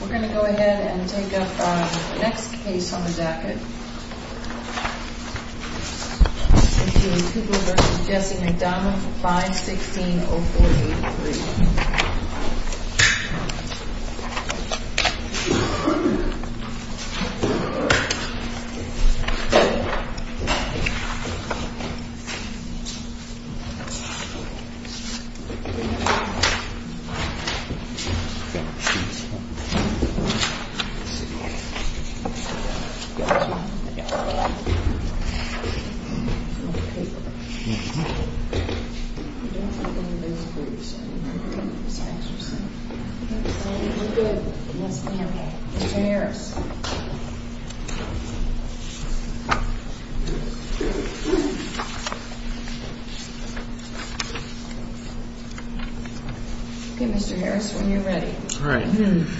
We're going to go ahead and take up the next case on the jacket. C.J. Cooper v. Jesse McDonald 516-0483 C.J. Cooper v. Jesse McDonald 516-0483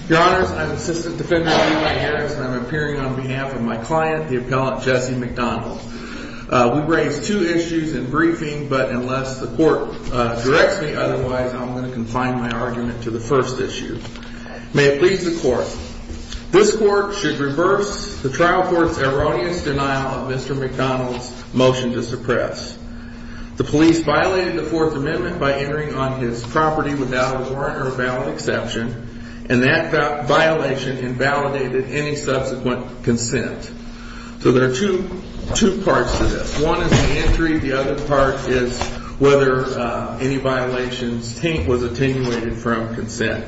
Your Honors, I'm Assistant Defendant Eli Harris, and I'm appearing on behalf of my client, the Appellant Jesse McDonald. We raise two issues in briefing, but unless the Court directs me otherwise, I'm going to confine my argument to the first issue. May it please the Court. This Court should reverse the Trial Court's erroneous denial of Mr. McDonald's motion to suppress. The police violated the Fourth Amendment by entering on his property without a warrant or valid exception, and that violation invalidated any subsequent consent. So there are two parts to this. One is the entry, the other part is whether any violations was attenuated from consent.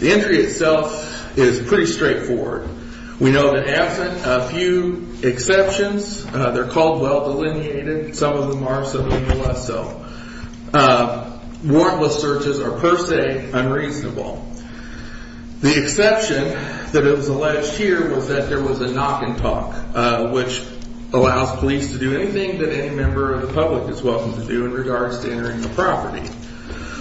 The entry itself is pretty straightforward. We know that absent a few exceptions, they're called well-delineated. Some of them are, some of them are not so. Warrantless searches are per se unreasonable. The exception that was alleged here was that there was a knock and talk, which allows police to do anything that any member of the public is welcome to do in regards to entering the property.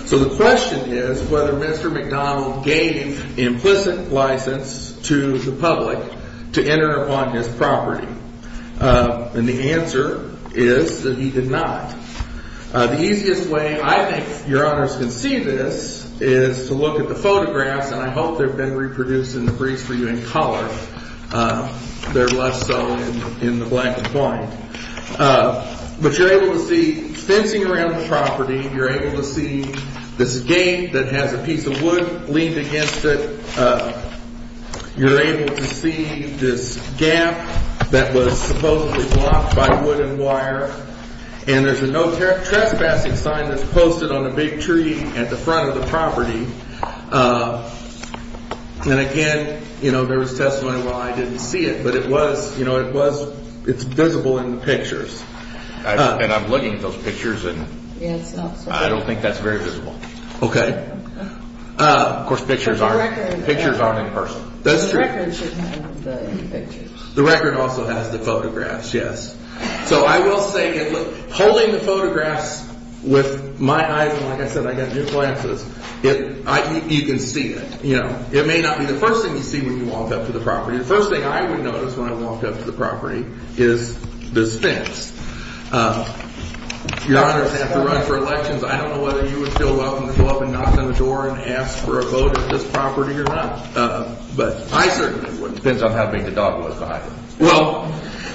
So the question is whether Mr. McDonald gave implicit license to the public to enter on his property. And the answer is that he did not. The easiest way I think Your Honors can see this is to look at the photographs, and I hope they've been reproduced in the briefs for you in color. They're less so in the black and white. But you're able to see fencing around the property. You're able to see this gate that has a piece of wood leaned against it. You're able to see this gap that was supposedly blocked by wood and wire. And there's a no trespassing sign that's posted on a big tree at the front of the property. And again, you know, there was testimony why I didn't see it, but it was, you know, it was, it's visible in the pictures. And I'm looking at those pictures, and I don't think that's very visible. Okay. Of course, pictures aren't, pictures aren't in person. That's true. The record should have the pictures. The record also has the photographs, yes. So I will say, holding the photographs with my eyes, and like I said, I've got new glasses, you can see it. You know, it may not be the first thing you see when you walk up to the property. The first thing I would notice when I walked up to the property is this fence. Your Honors have to run for elections. I don't know whether you would feel welcome to go up and knock on the door and ask for a vote at this property or not. But I certainly wouldn't. Depends on how big the dog was behind it. Well,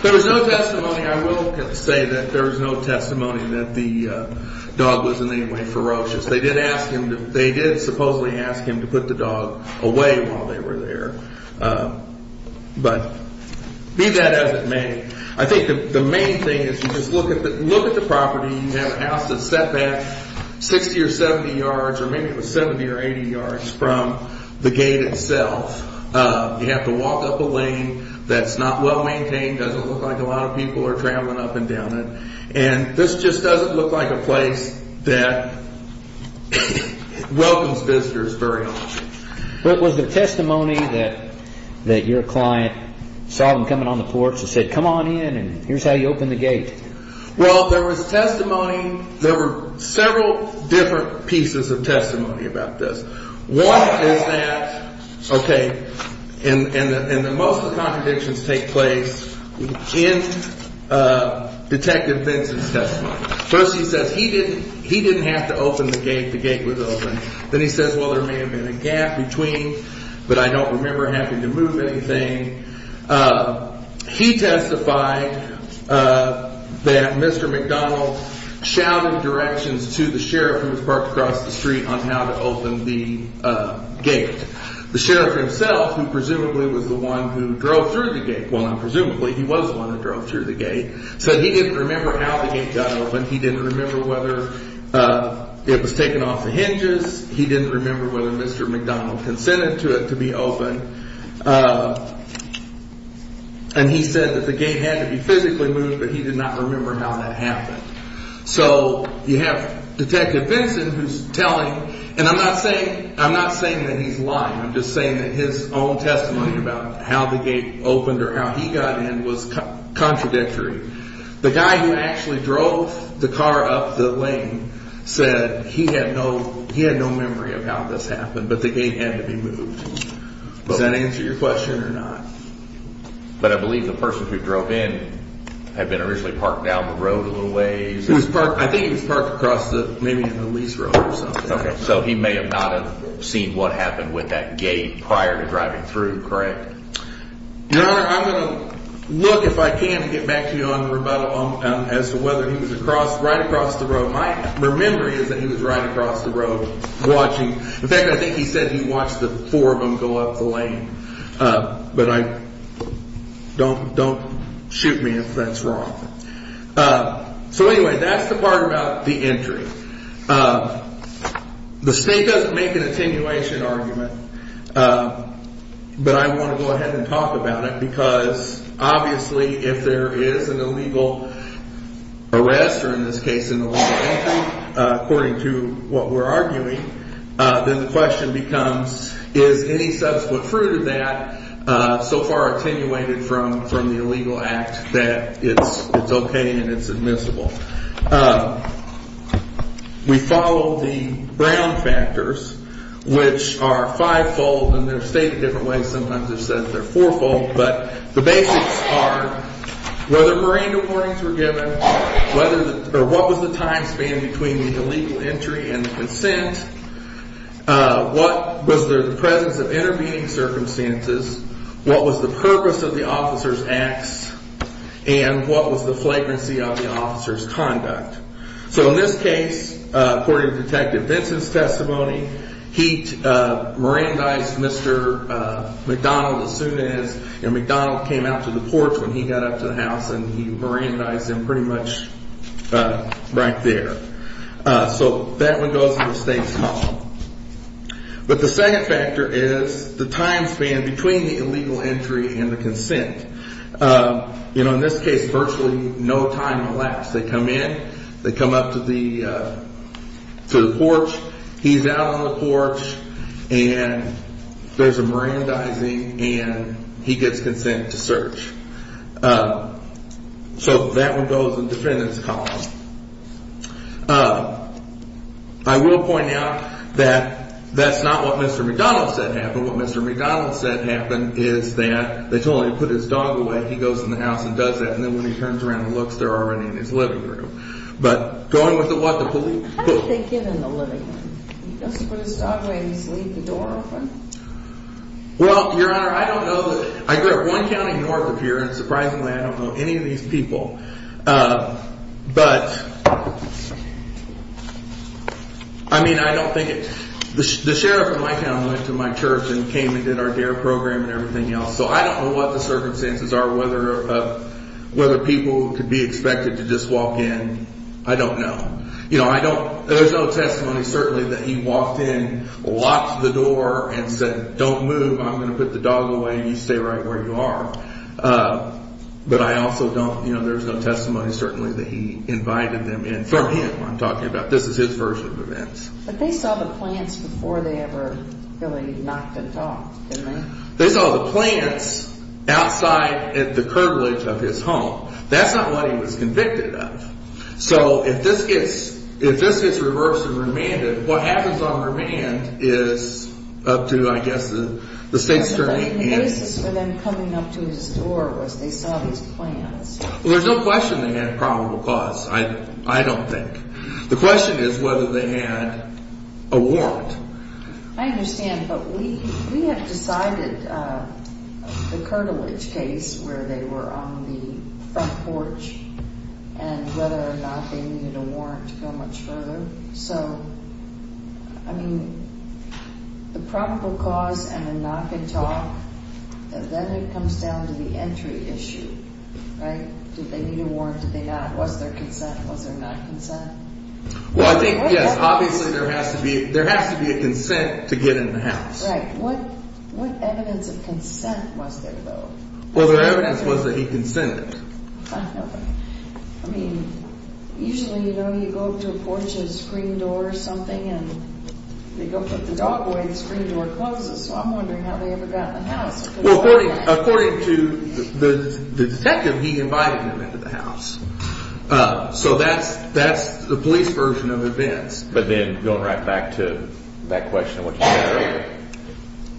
there was no testimony. I will say that there was no testimony that the dog was in any way ferocious. They did ask him to, they did supposedly ask him to put the dog away while they were there. But be that as it may, I think the main thing is you just look at the property. You have a house that's set back 60 or 70 yards, or maybe it was 70 or 80 yards from the gate itself. You have to walk up a lane that's not well maintained. Doesn't look like a lot of people are traveling up and down it. And this just doesn't look like a place that welcomes visitors very often. What was the testimony that your client saw them coming on the porch and said, come on in and here's how you open the gate? Well, there was testimony, there were several different pieces of testimony about this. One is that, okay, and most of the contradictions take place in Detective Vincent's testimony. First he says he didn't have to open the gate, the gate was open. Then he says, well, there may have been a gap between, but I don't remember having to move anything. He testified that Mr. McDonald shouted directions to the sheriff who was parked across the street on how to open the gate. The sheriff himself, who presumably was the one who drove through the gate, well, presumably he was the one who drove through the gate, said he didn't remember how the gate got open. He didn't remember whether it was taken off the hinges. He didn't remember whether Mr. McDonald consented to it to be open. And he said that the gate had to be physically moved, but he did not remember how that happened. So you have Detective Vincent who's telling, and I'm not saying that he's lying. I'm just saying that his own testimony about how the gate opened or how he got in was contradictory. The guy who actually drove the car up the lane said he had no memory of how this happened, but the gate had to be moved. Does that answer your question or not? But I believe the person who drove in had been originally parked down the road a little ways. I think he was parked across maybe the police road or something. So he may have not have seen what happened with that gate prior to driving through, correct? Your Honor, I'm going to look, if I can, and get back to you on rebuttal as to whether he was right across the road. My memory is that he was right across the road watching. In fact, I think he said he watched the four of them go up the lane. But don't shoot me if that's wrong. So anyway, that's the part about the entry. The State doesn't make an attenuation argument, but I want to go ahead and talk about it because obviously if there is an illegal arrest, or in this case an illegal entry, according to what we're arguing, then the question becomes is any subsequent fruit of that so far attenuated from the illegal act that it's okay and it's admissible? We follow the Brown factors, which are five-fold, and they're stated different ways. Sometimes they're said that they're four-fold, but the basics are whether marine warnings were given, what was the time span between the illegal entry and the consent, what was the presence of intervening circumstances, what was the purpose of the officer's acts, and what was the flagrancy of the officer's conduct. So in this case, according to Detective Vinson's testimony, he merandized Mr. McDonald as soon as McDonald came out to the porch when he got up to the house, and he merandized him pretty much right there. So that one goes in the State's column. But the second factor is the time span between the illegal entry and the consent. In this case, virtually no time elapsed. They come in. They come up to the porch. He's out on the porch, and there's a merandizing, and he gets consent to search. So that one goes in the defendant's column. I will point out that that's not what Mr. McDonald said happened. What Mr. McDonald said happened is that they told him to put his dog away. He goes in the house and does that. And then when he turns around and looks, they're already in his living room. But going with the what, the police? How did they get in the living room? Did he just put his dog away and just leave the door open? Well, Your Honor, I don't know. I go to one county north of here, and surprisingly, I don't know any of these people. But, I mean, I don't think it's the sheriff in my town went to my church and came and did our D.A.R.E. program and everything else. So I don't know what the circumstances are, whether people could be expected to just walk in. I don't know. You know, I don't. There's no testimony, certainly, that he walked in, locked the door and said, don't move. I'm going to put the dog away, and you stay right where you are. But I also don't. You know, there's no testimony, certainly, that he invited them in from him, I'm talking about. This is his version of events. But they saw the plants before they ever really knocked the dog, didn't they? They saw the plants outside the curvilege of his home. That's not what he was convicted of. So if this gets reversed and remanded, what happens on remand is up to, I guess, the state's attorney. The basis for them coming up to his door was they saw these plants. Well, there's no question they had probable cause, I don't think. The question is whether they had a warrant. I understand. But we have decided the curvilege case where they were on the front porch and whether or not they needed a warrant to go much further. So, I mean, the probable cause and the knock and talk, then it comes down to the entry issue, right? Did they need a warrant? Did they not? Was there consent? Was there not consent? Well, I think, yes, obviously there has to be a consent to get in the house. Right. What evidence of consent was there, though? Well, their evidence was that he consented. I mean, usually, you know, you go up to a porch and a screen door or something and they go put the dog away and the screen door closes. So I'm wondering how they ever got in the house. Well, according to the detective, he invited them into the house. So that's the police version of events. But then going right back to that question of what you said earlier,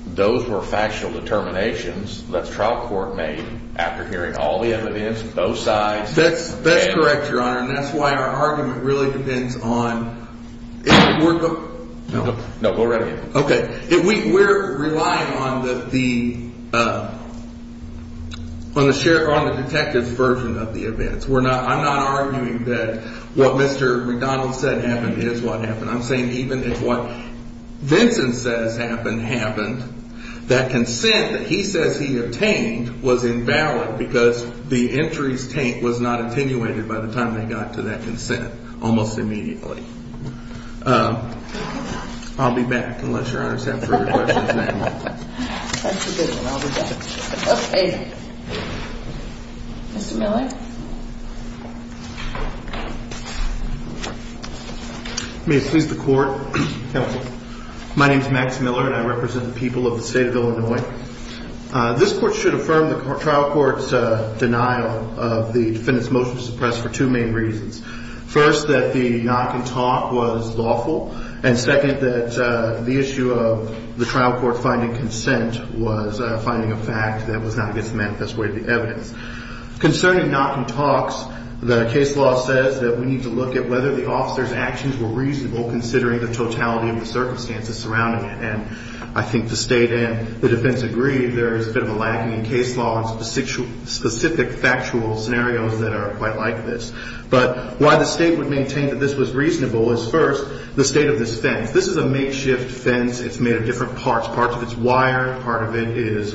those were factual determinations that the trial court made after hearing all the evidence, both sides. That's correct, Your Honor. And that's why our argument really depends on – No, go right ahead. Okay. We're relying on the detective's version of the events. I'm not arguing that what Mr. McDonald said happened is what happened. I'm saying even if what Vincent says happened, happened, that consent that he says he obtained was invalid because the entry's taint was not attenuated by the time they got to that consent almost immediately. I'll be back unless Your Honor's have further questions. That's a good one. I'll be back. Okay. Mr. Miller? May it please the Court, counsel. My name's Max Miller, and I represent the people of the state of Illinois. This court should affirm the trial court's denial of the defendant's motion to suppress for two main reasons. First, that the knock and talk was lawful. And second, that the issue of the trial court finding consent was finding a fact that was not against the manifest way of the evidence. Concerning knock and talks, the case law says that we need to look at whether the officer's actions were reasonable considering the totality of the circumstances surrounding it. And I think the state and the defense agree there is a bit of a lagging in case law in specific factual scenarios that are quite like this. But why the state would maintain that this was reasonable is first, the state of this fence. This is a makeshift fence. It's made of different parts. Parts of it's wire. Part of it is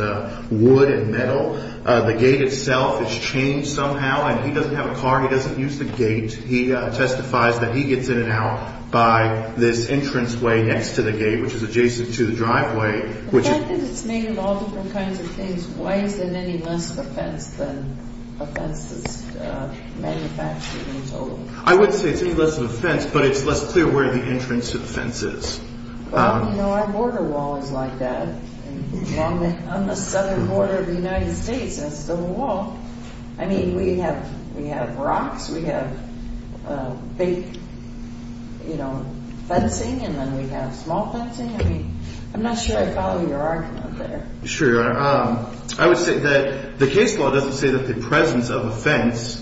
wood and metal. The gate itself is changed somehow. And he doesn't have a car. He doesn't use the gate. He testifies that he gets in and out by this entranceway next to the gate, which is adjacent to the driveway. The fact that it's made of all different kinds of things, why is it any less of a fence than a fence that's manufactured in total? I would say it's any less of a fence, but it's less clear where the entrance to the fence is. Well, you know, our border wall is like that. On the southern border of the United States, that's still a wall. I mean, we have rocks. We have big, you know, fencing, and then we have small fencing. I mean, I'm not sure I follow your argument there. Sure, Your Honor. I would say that the case law doesn't say that the presence of a fence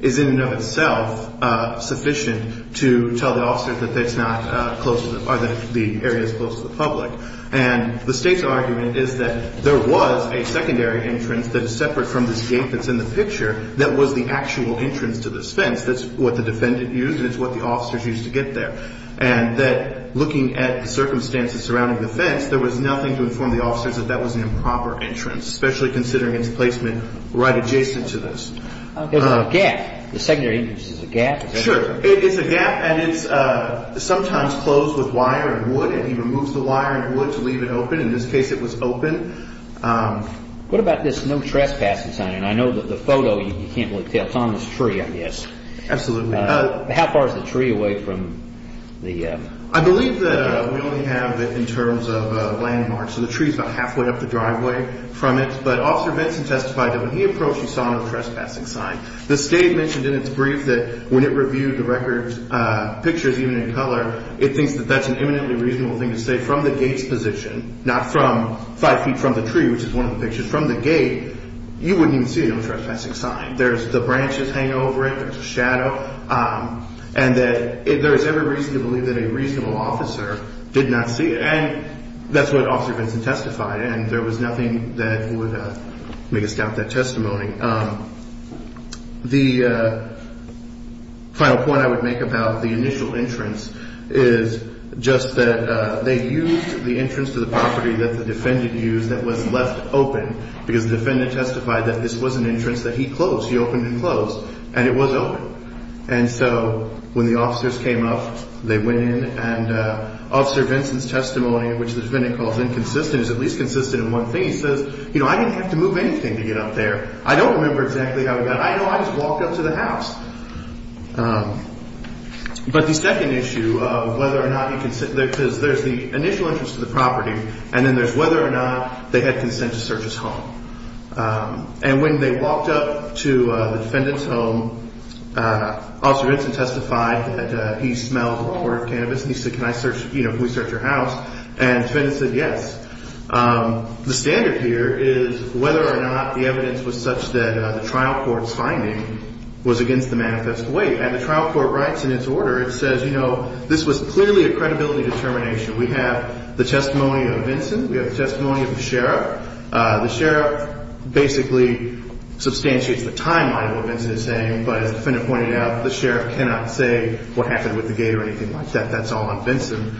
is in and of itself sufficient to tell the officer that it's not close to the public and the State's argument is that there was a secondary entrance that is separate from this gate that's in the picture that was the actual entrance to this fence. That's what the defendant used and it's what the officers used to get there. And that looking at the circumstances surrounding the fence, there was nothing to inform the officers that that was an improper entrance, especially considering its placement right adjacent to this. There's a gap. The secondary entrance is a gap. Sure. It's a gap and it's sometimes closed with wire and wood, and he removes the wire and wood to leave it open. In this case, it was open. What about this no trespassing sign? And I know that the photo, you can't really tell. It's on this tree, I guess. Absolutely. How far is the tree away from the gate? I believe that we only have it in terms of landmarks. So the tree's about halfway up the driveway from it. But Officer Benson testified that when he approached, he saw no trespassing sign. The state mentioned in its brief that when it reviewed the record's pictures, even in color, it thinks that that's an eminently reasonable thing to say from the gate's position, not five feet from the tree, which is one of the pictures, from the gate, you wouldn't even see a no trespassing sign. There's the branches hanging over it. There's a shadow. And that there's every reason to believe that a reasonable officer did not see it. And that's what Officer Benson testified, and there was nothing that would make us doubt that testimony. The final point I would make about the initial entrance is just that they used the entrance to the property that the defendant used that was left open because the defendant testified that this was an entrance that he closed. He opened and closed, and it was open. And so when the officers came up, they went in, and Officer Benson's testimony, which the defendant calls inconsistent, is at least consistent in one thing. He says, you know, I didn't have to move anything to get up there. I don't remember exactly how he got up there. I know I just walked up to the house. But the second issue of whether or not he consented, because there's the initial entrance to the property, and then there's whether or not they had consent to search his home. And when they walked up to the defendant's home, Officer Benson testified that he smelled the wrong order of cannabis, and he said, can I search, you know, can we search your house? And the defendant said yes. The standard here is whether or not the evidence was such that the trial court's finding was against the manifest way. And the trial court writes in its order, it says, you know, this was clearly a credibility determination. We have the testimony of Vincent. We have the testimony of the sheriff. The sheriff basically substantiates the timeline of what Vincent is saying, but as the defendant pointed out, the sheriff cannot say what happened with the gate or anything like that. That's all on Vincent.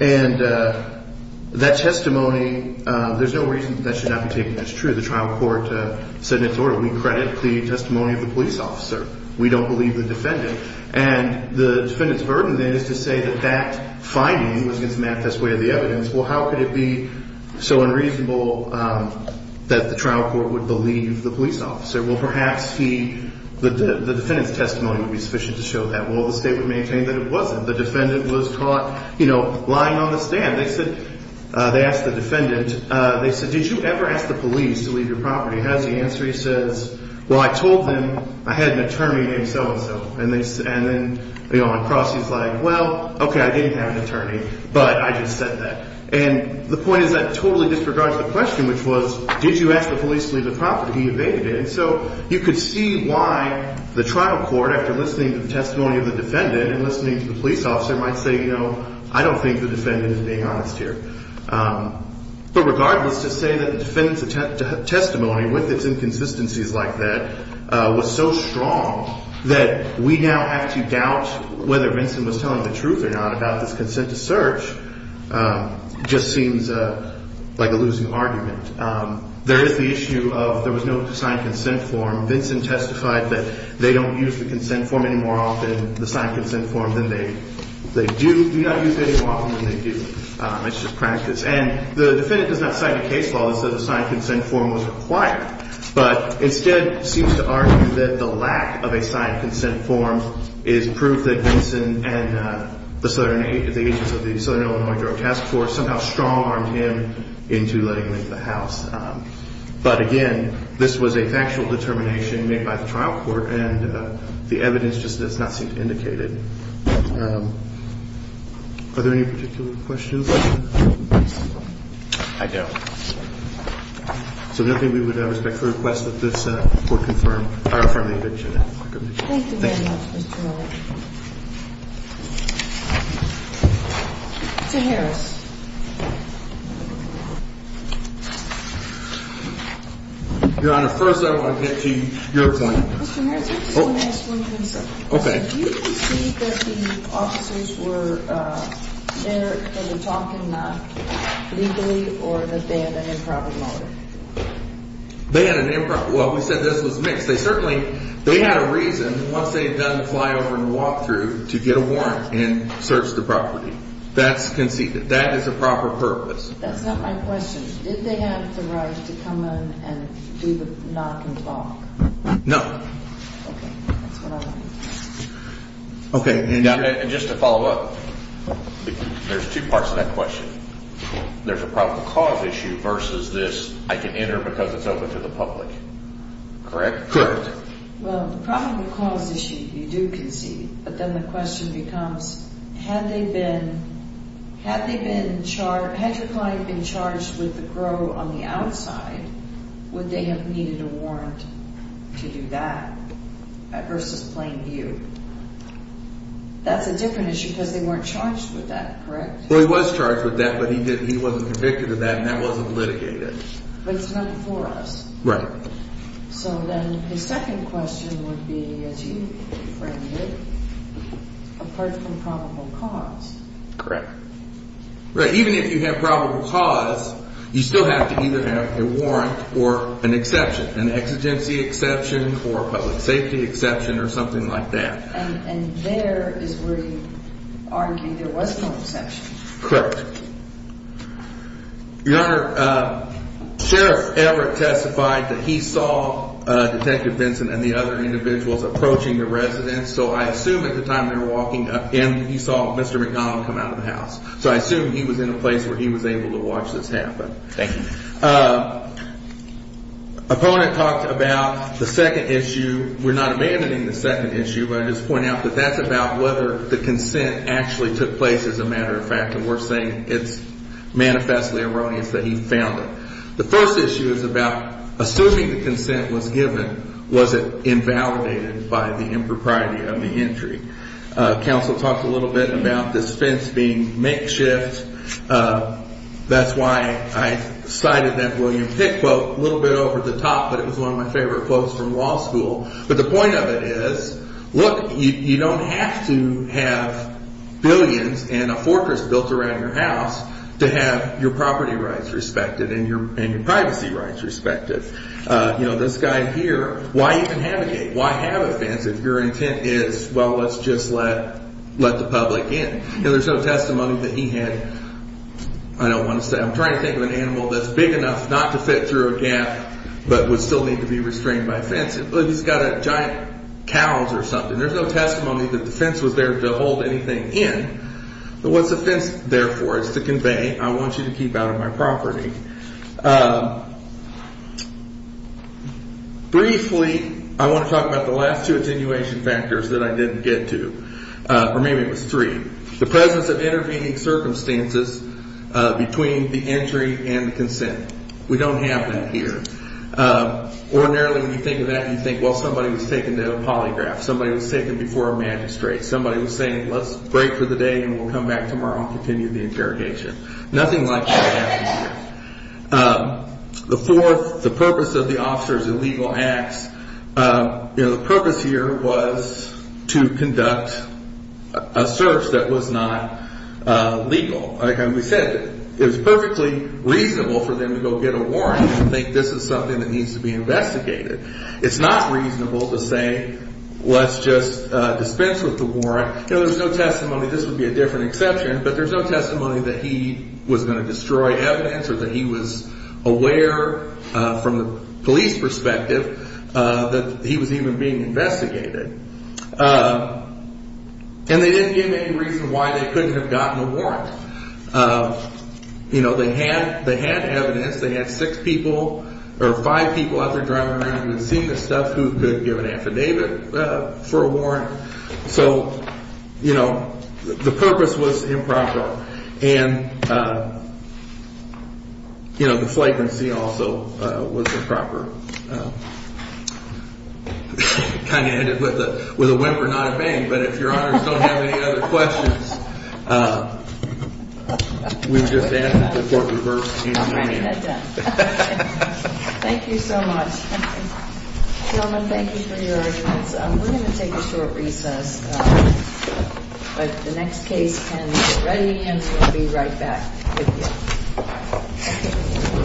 And that testimony, there's no reason that that should not be taken as true. The trial court said in its order, we credit the testimony of the police officer. We don't believe the defendant. And the defendant's burden then is to say that that finding was against the manifest way of the evidence. Well, how could it be so unreasonable that the trial court would believe the police officer? Well, perhaps the defendant's testimony would be sufficient to show that. Well, the state would maintain that it wasn't. The defendant was caught, you know, lying on the stand. They said, they asked the defendant, they said, did you ever ask the police to leave your property? How does he answer? He says, well, I told them I had an attorney named so-and-so. And then, you know, on the cross, he's like, well, okay, I didn't have an attorney, but I just said that. And the point is that totally disregards the question, which was, did you ask the police to leave the property? He evaded it. So you could see why the trial court, after listening to the testimony of the defendant and listening to the police officer, might say, you know, I don't think the defendant is being honest here. But regardless, to say that the defendant's testimony, with its inconsistencies like that, was so strong that we now have to doubt whether Vincent was telling the truth or not about this consent to search, just seems like a losing argument. There is the issue of there was no signed consent form. Vincent testified that they don't use the consent form any more often, the signed consent form, than they do. They do not use it any more often than they do. It's just practice. And the defendant does not cite a case law that says a signed consent form was required, but instead seems to argue that the lack of a signed consent form is proof that Vincent and the Southern, the agents of the Southern Illinois Drug Task Force somehow strong-armed him into letting him into the house. But again, this was a factual determination made by the trial court, and the evidence just does not seem to indicate it. Are there any particular questions? I don't. So I don't think we would respect the request that this court confirm or affirm the eviction. Thank you very much, Mr. Miller. Mr. Harris. Your Honor, first I want to get to your point. Mr. Harris, I just want to ask one thing, sir. Okay. Do you believe that the officers were there and were talking legally, or that they had an improper motive? They had an improper – well, we said this was mixed. They certainly – they had a reason, once they had done the flyover and walkthrough, to get a warrant and search the property. That's conceded. That is a proper purpose. That's not my question. Did they have the right to come in and do the knock and talk? No. Okay. That's what I want to know. Okay. And just to follow up, there's two parts to that question. There's a probable cause issue versus this I can enter because it's open to the public. Correct? Correct. Well, the probable cause issue you do concede, but then the question becomes had they been – had they been charged – had your client been charged with the grow on the outside, would they have needed a warrant to do that versus plain view? That's a different issue because they weren't charged with that, correct? Well, he was charged with that, but he didn't – he wasn't convicted of that, and that wasn't litigated. But it's not before us. Right. So then his second question would be, as you framed it, a perfectly probable cause. Correct. Right. Even if you have probable cause, you still have to either have a warrant or an exception, an exigency exception or a public safety exception or something like that. And there is where you argue there was no exception. Correct. Your Honor, Sheriff Everett testified that he saw Detective Vinson and the other individuals approaching the residence, so I assume at the time they were walking up in he saw Mr. McDonald come out of the house. So I assume he was in a place where he was able to watch this happen. Thank you. Opponent talked about the second issue. We're not abandoning the second issue, but I just point out that that's about whether the consent actually took place, as a matter of fact. And we're saying it's manifestly erroneous that he found it. The first issue is about assuming the consent was given, was it invalidated by the impropriety of the entry? Counsel talked a little bit about this fence being makeshift. That's why I cited that William Pick quote a little bit over the top, but it was one of my favorite quotes from law school. But the point of it is, look, you don't have to have billions and a fortress built around your house to have your property rights respected and your privacy rights respected. You know, this guy here, why even have a gate? Why have a fence if your intent is, well, let's just let let the public in? And there's no testimony that he had. I don't want to say I'm trying to think of an animal that's big enough not to fit through a gap, but would still need to be restrained by fence. He's got a giant cows or something. There's no testimony that the fence was there to hold anything in. But what's the fence there for? It's to convey I want you to keep out of my property. Briefly, I want to talk about the last two attenuation factors that I didn't get to, or maybe it was three. The presence of intervening circumstances between the entry and the consent. We don't have that here. Ordinarily, when you think of that, you think, well, somebody was taken to a polygraph. Somebody was taken before a magistrate. Somebody was saying, let's break for the day and we'll come back tomorrow and continue the interrogation. Nothing like that happens here. The fourth, the purpose of the officer's illegal acts. You know, the purpose here was to conduct a search that was not legal. Like we said, it was perfectly reasonable for them to go get a warrant and think this is something that needs to be investigated. It's not reasonable to say let's just dispense with the warrant. You know, there's no testimony. This would be a different exception. But there's no testimony that he was going to destroy evidence or that he was aware from the police perspective that he was even being investigated. And they didn't give any reason why they couldn't have gotten a warrant. You know, they had evidence. They had six people or five people out there driving around in the scene and stuff who could give an affidavit for a warrant. So, you know, the purpose was improper. And, you know, the flag in the scene also was improper. I kind of hit it with a whimper, not a bang. But if your honors don't have any other questions, we've just asked them before we reversed. Thank you so much. Gentlemen, thank you for your attendance. We're going to take a short recess. But the next case can get ready and we'll be right back with you.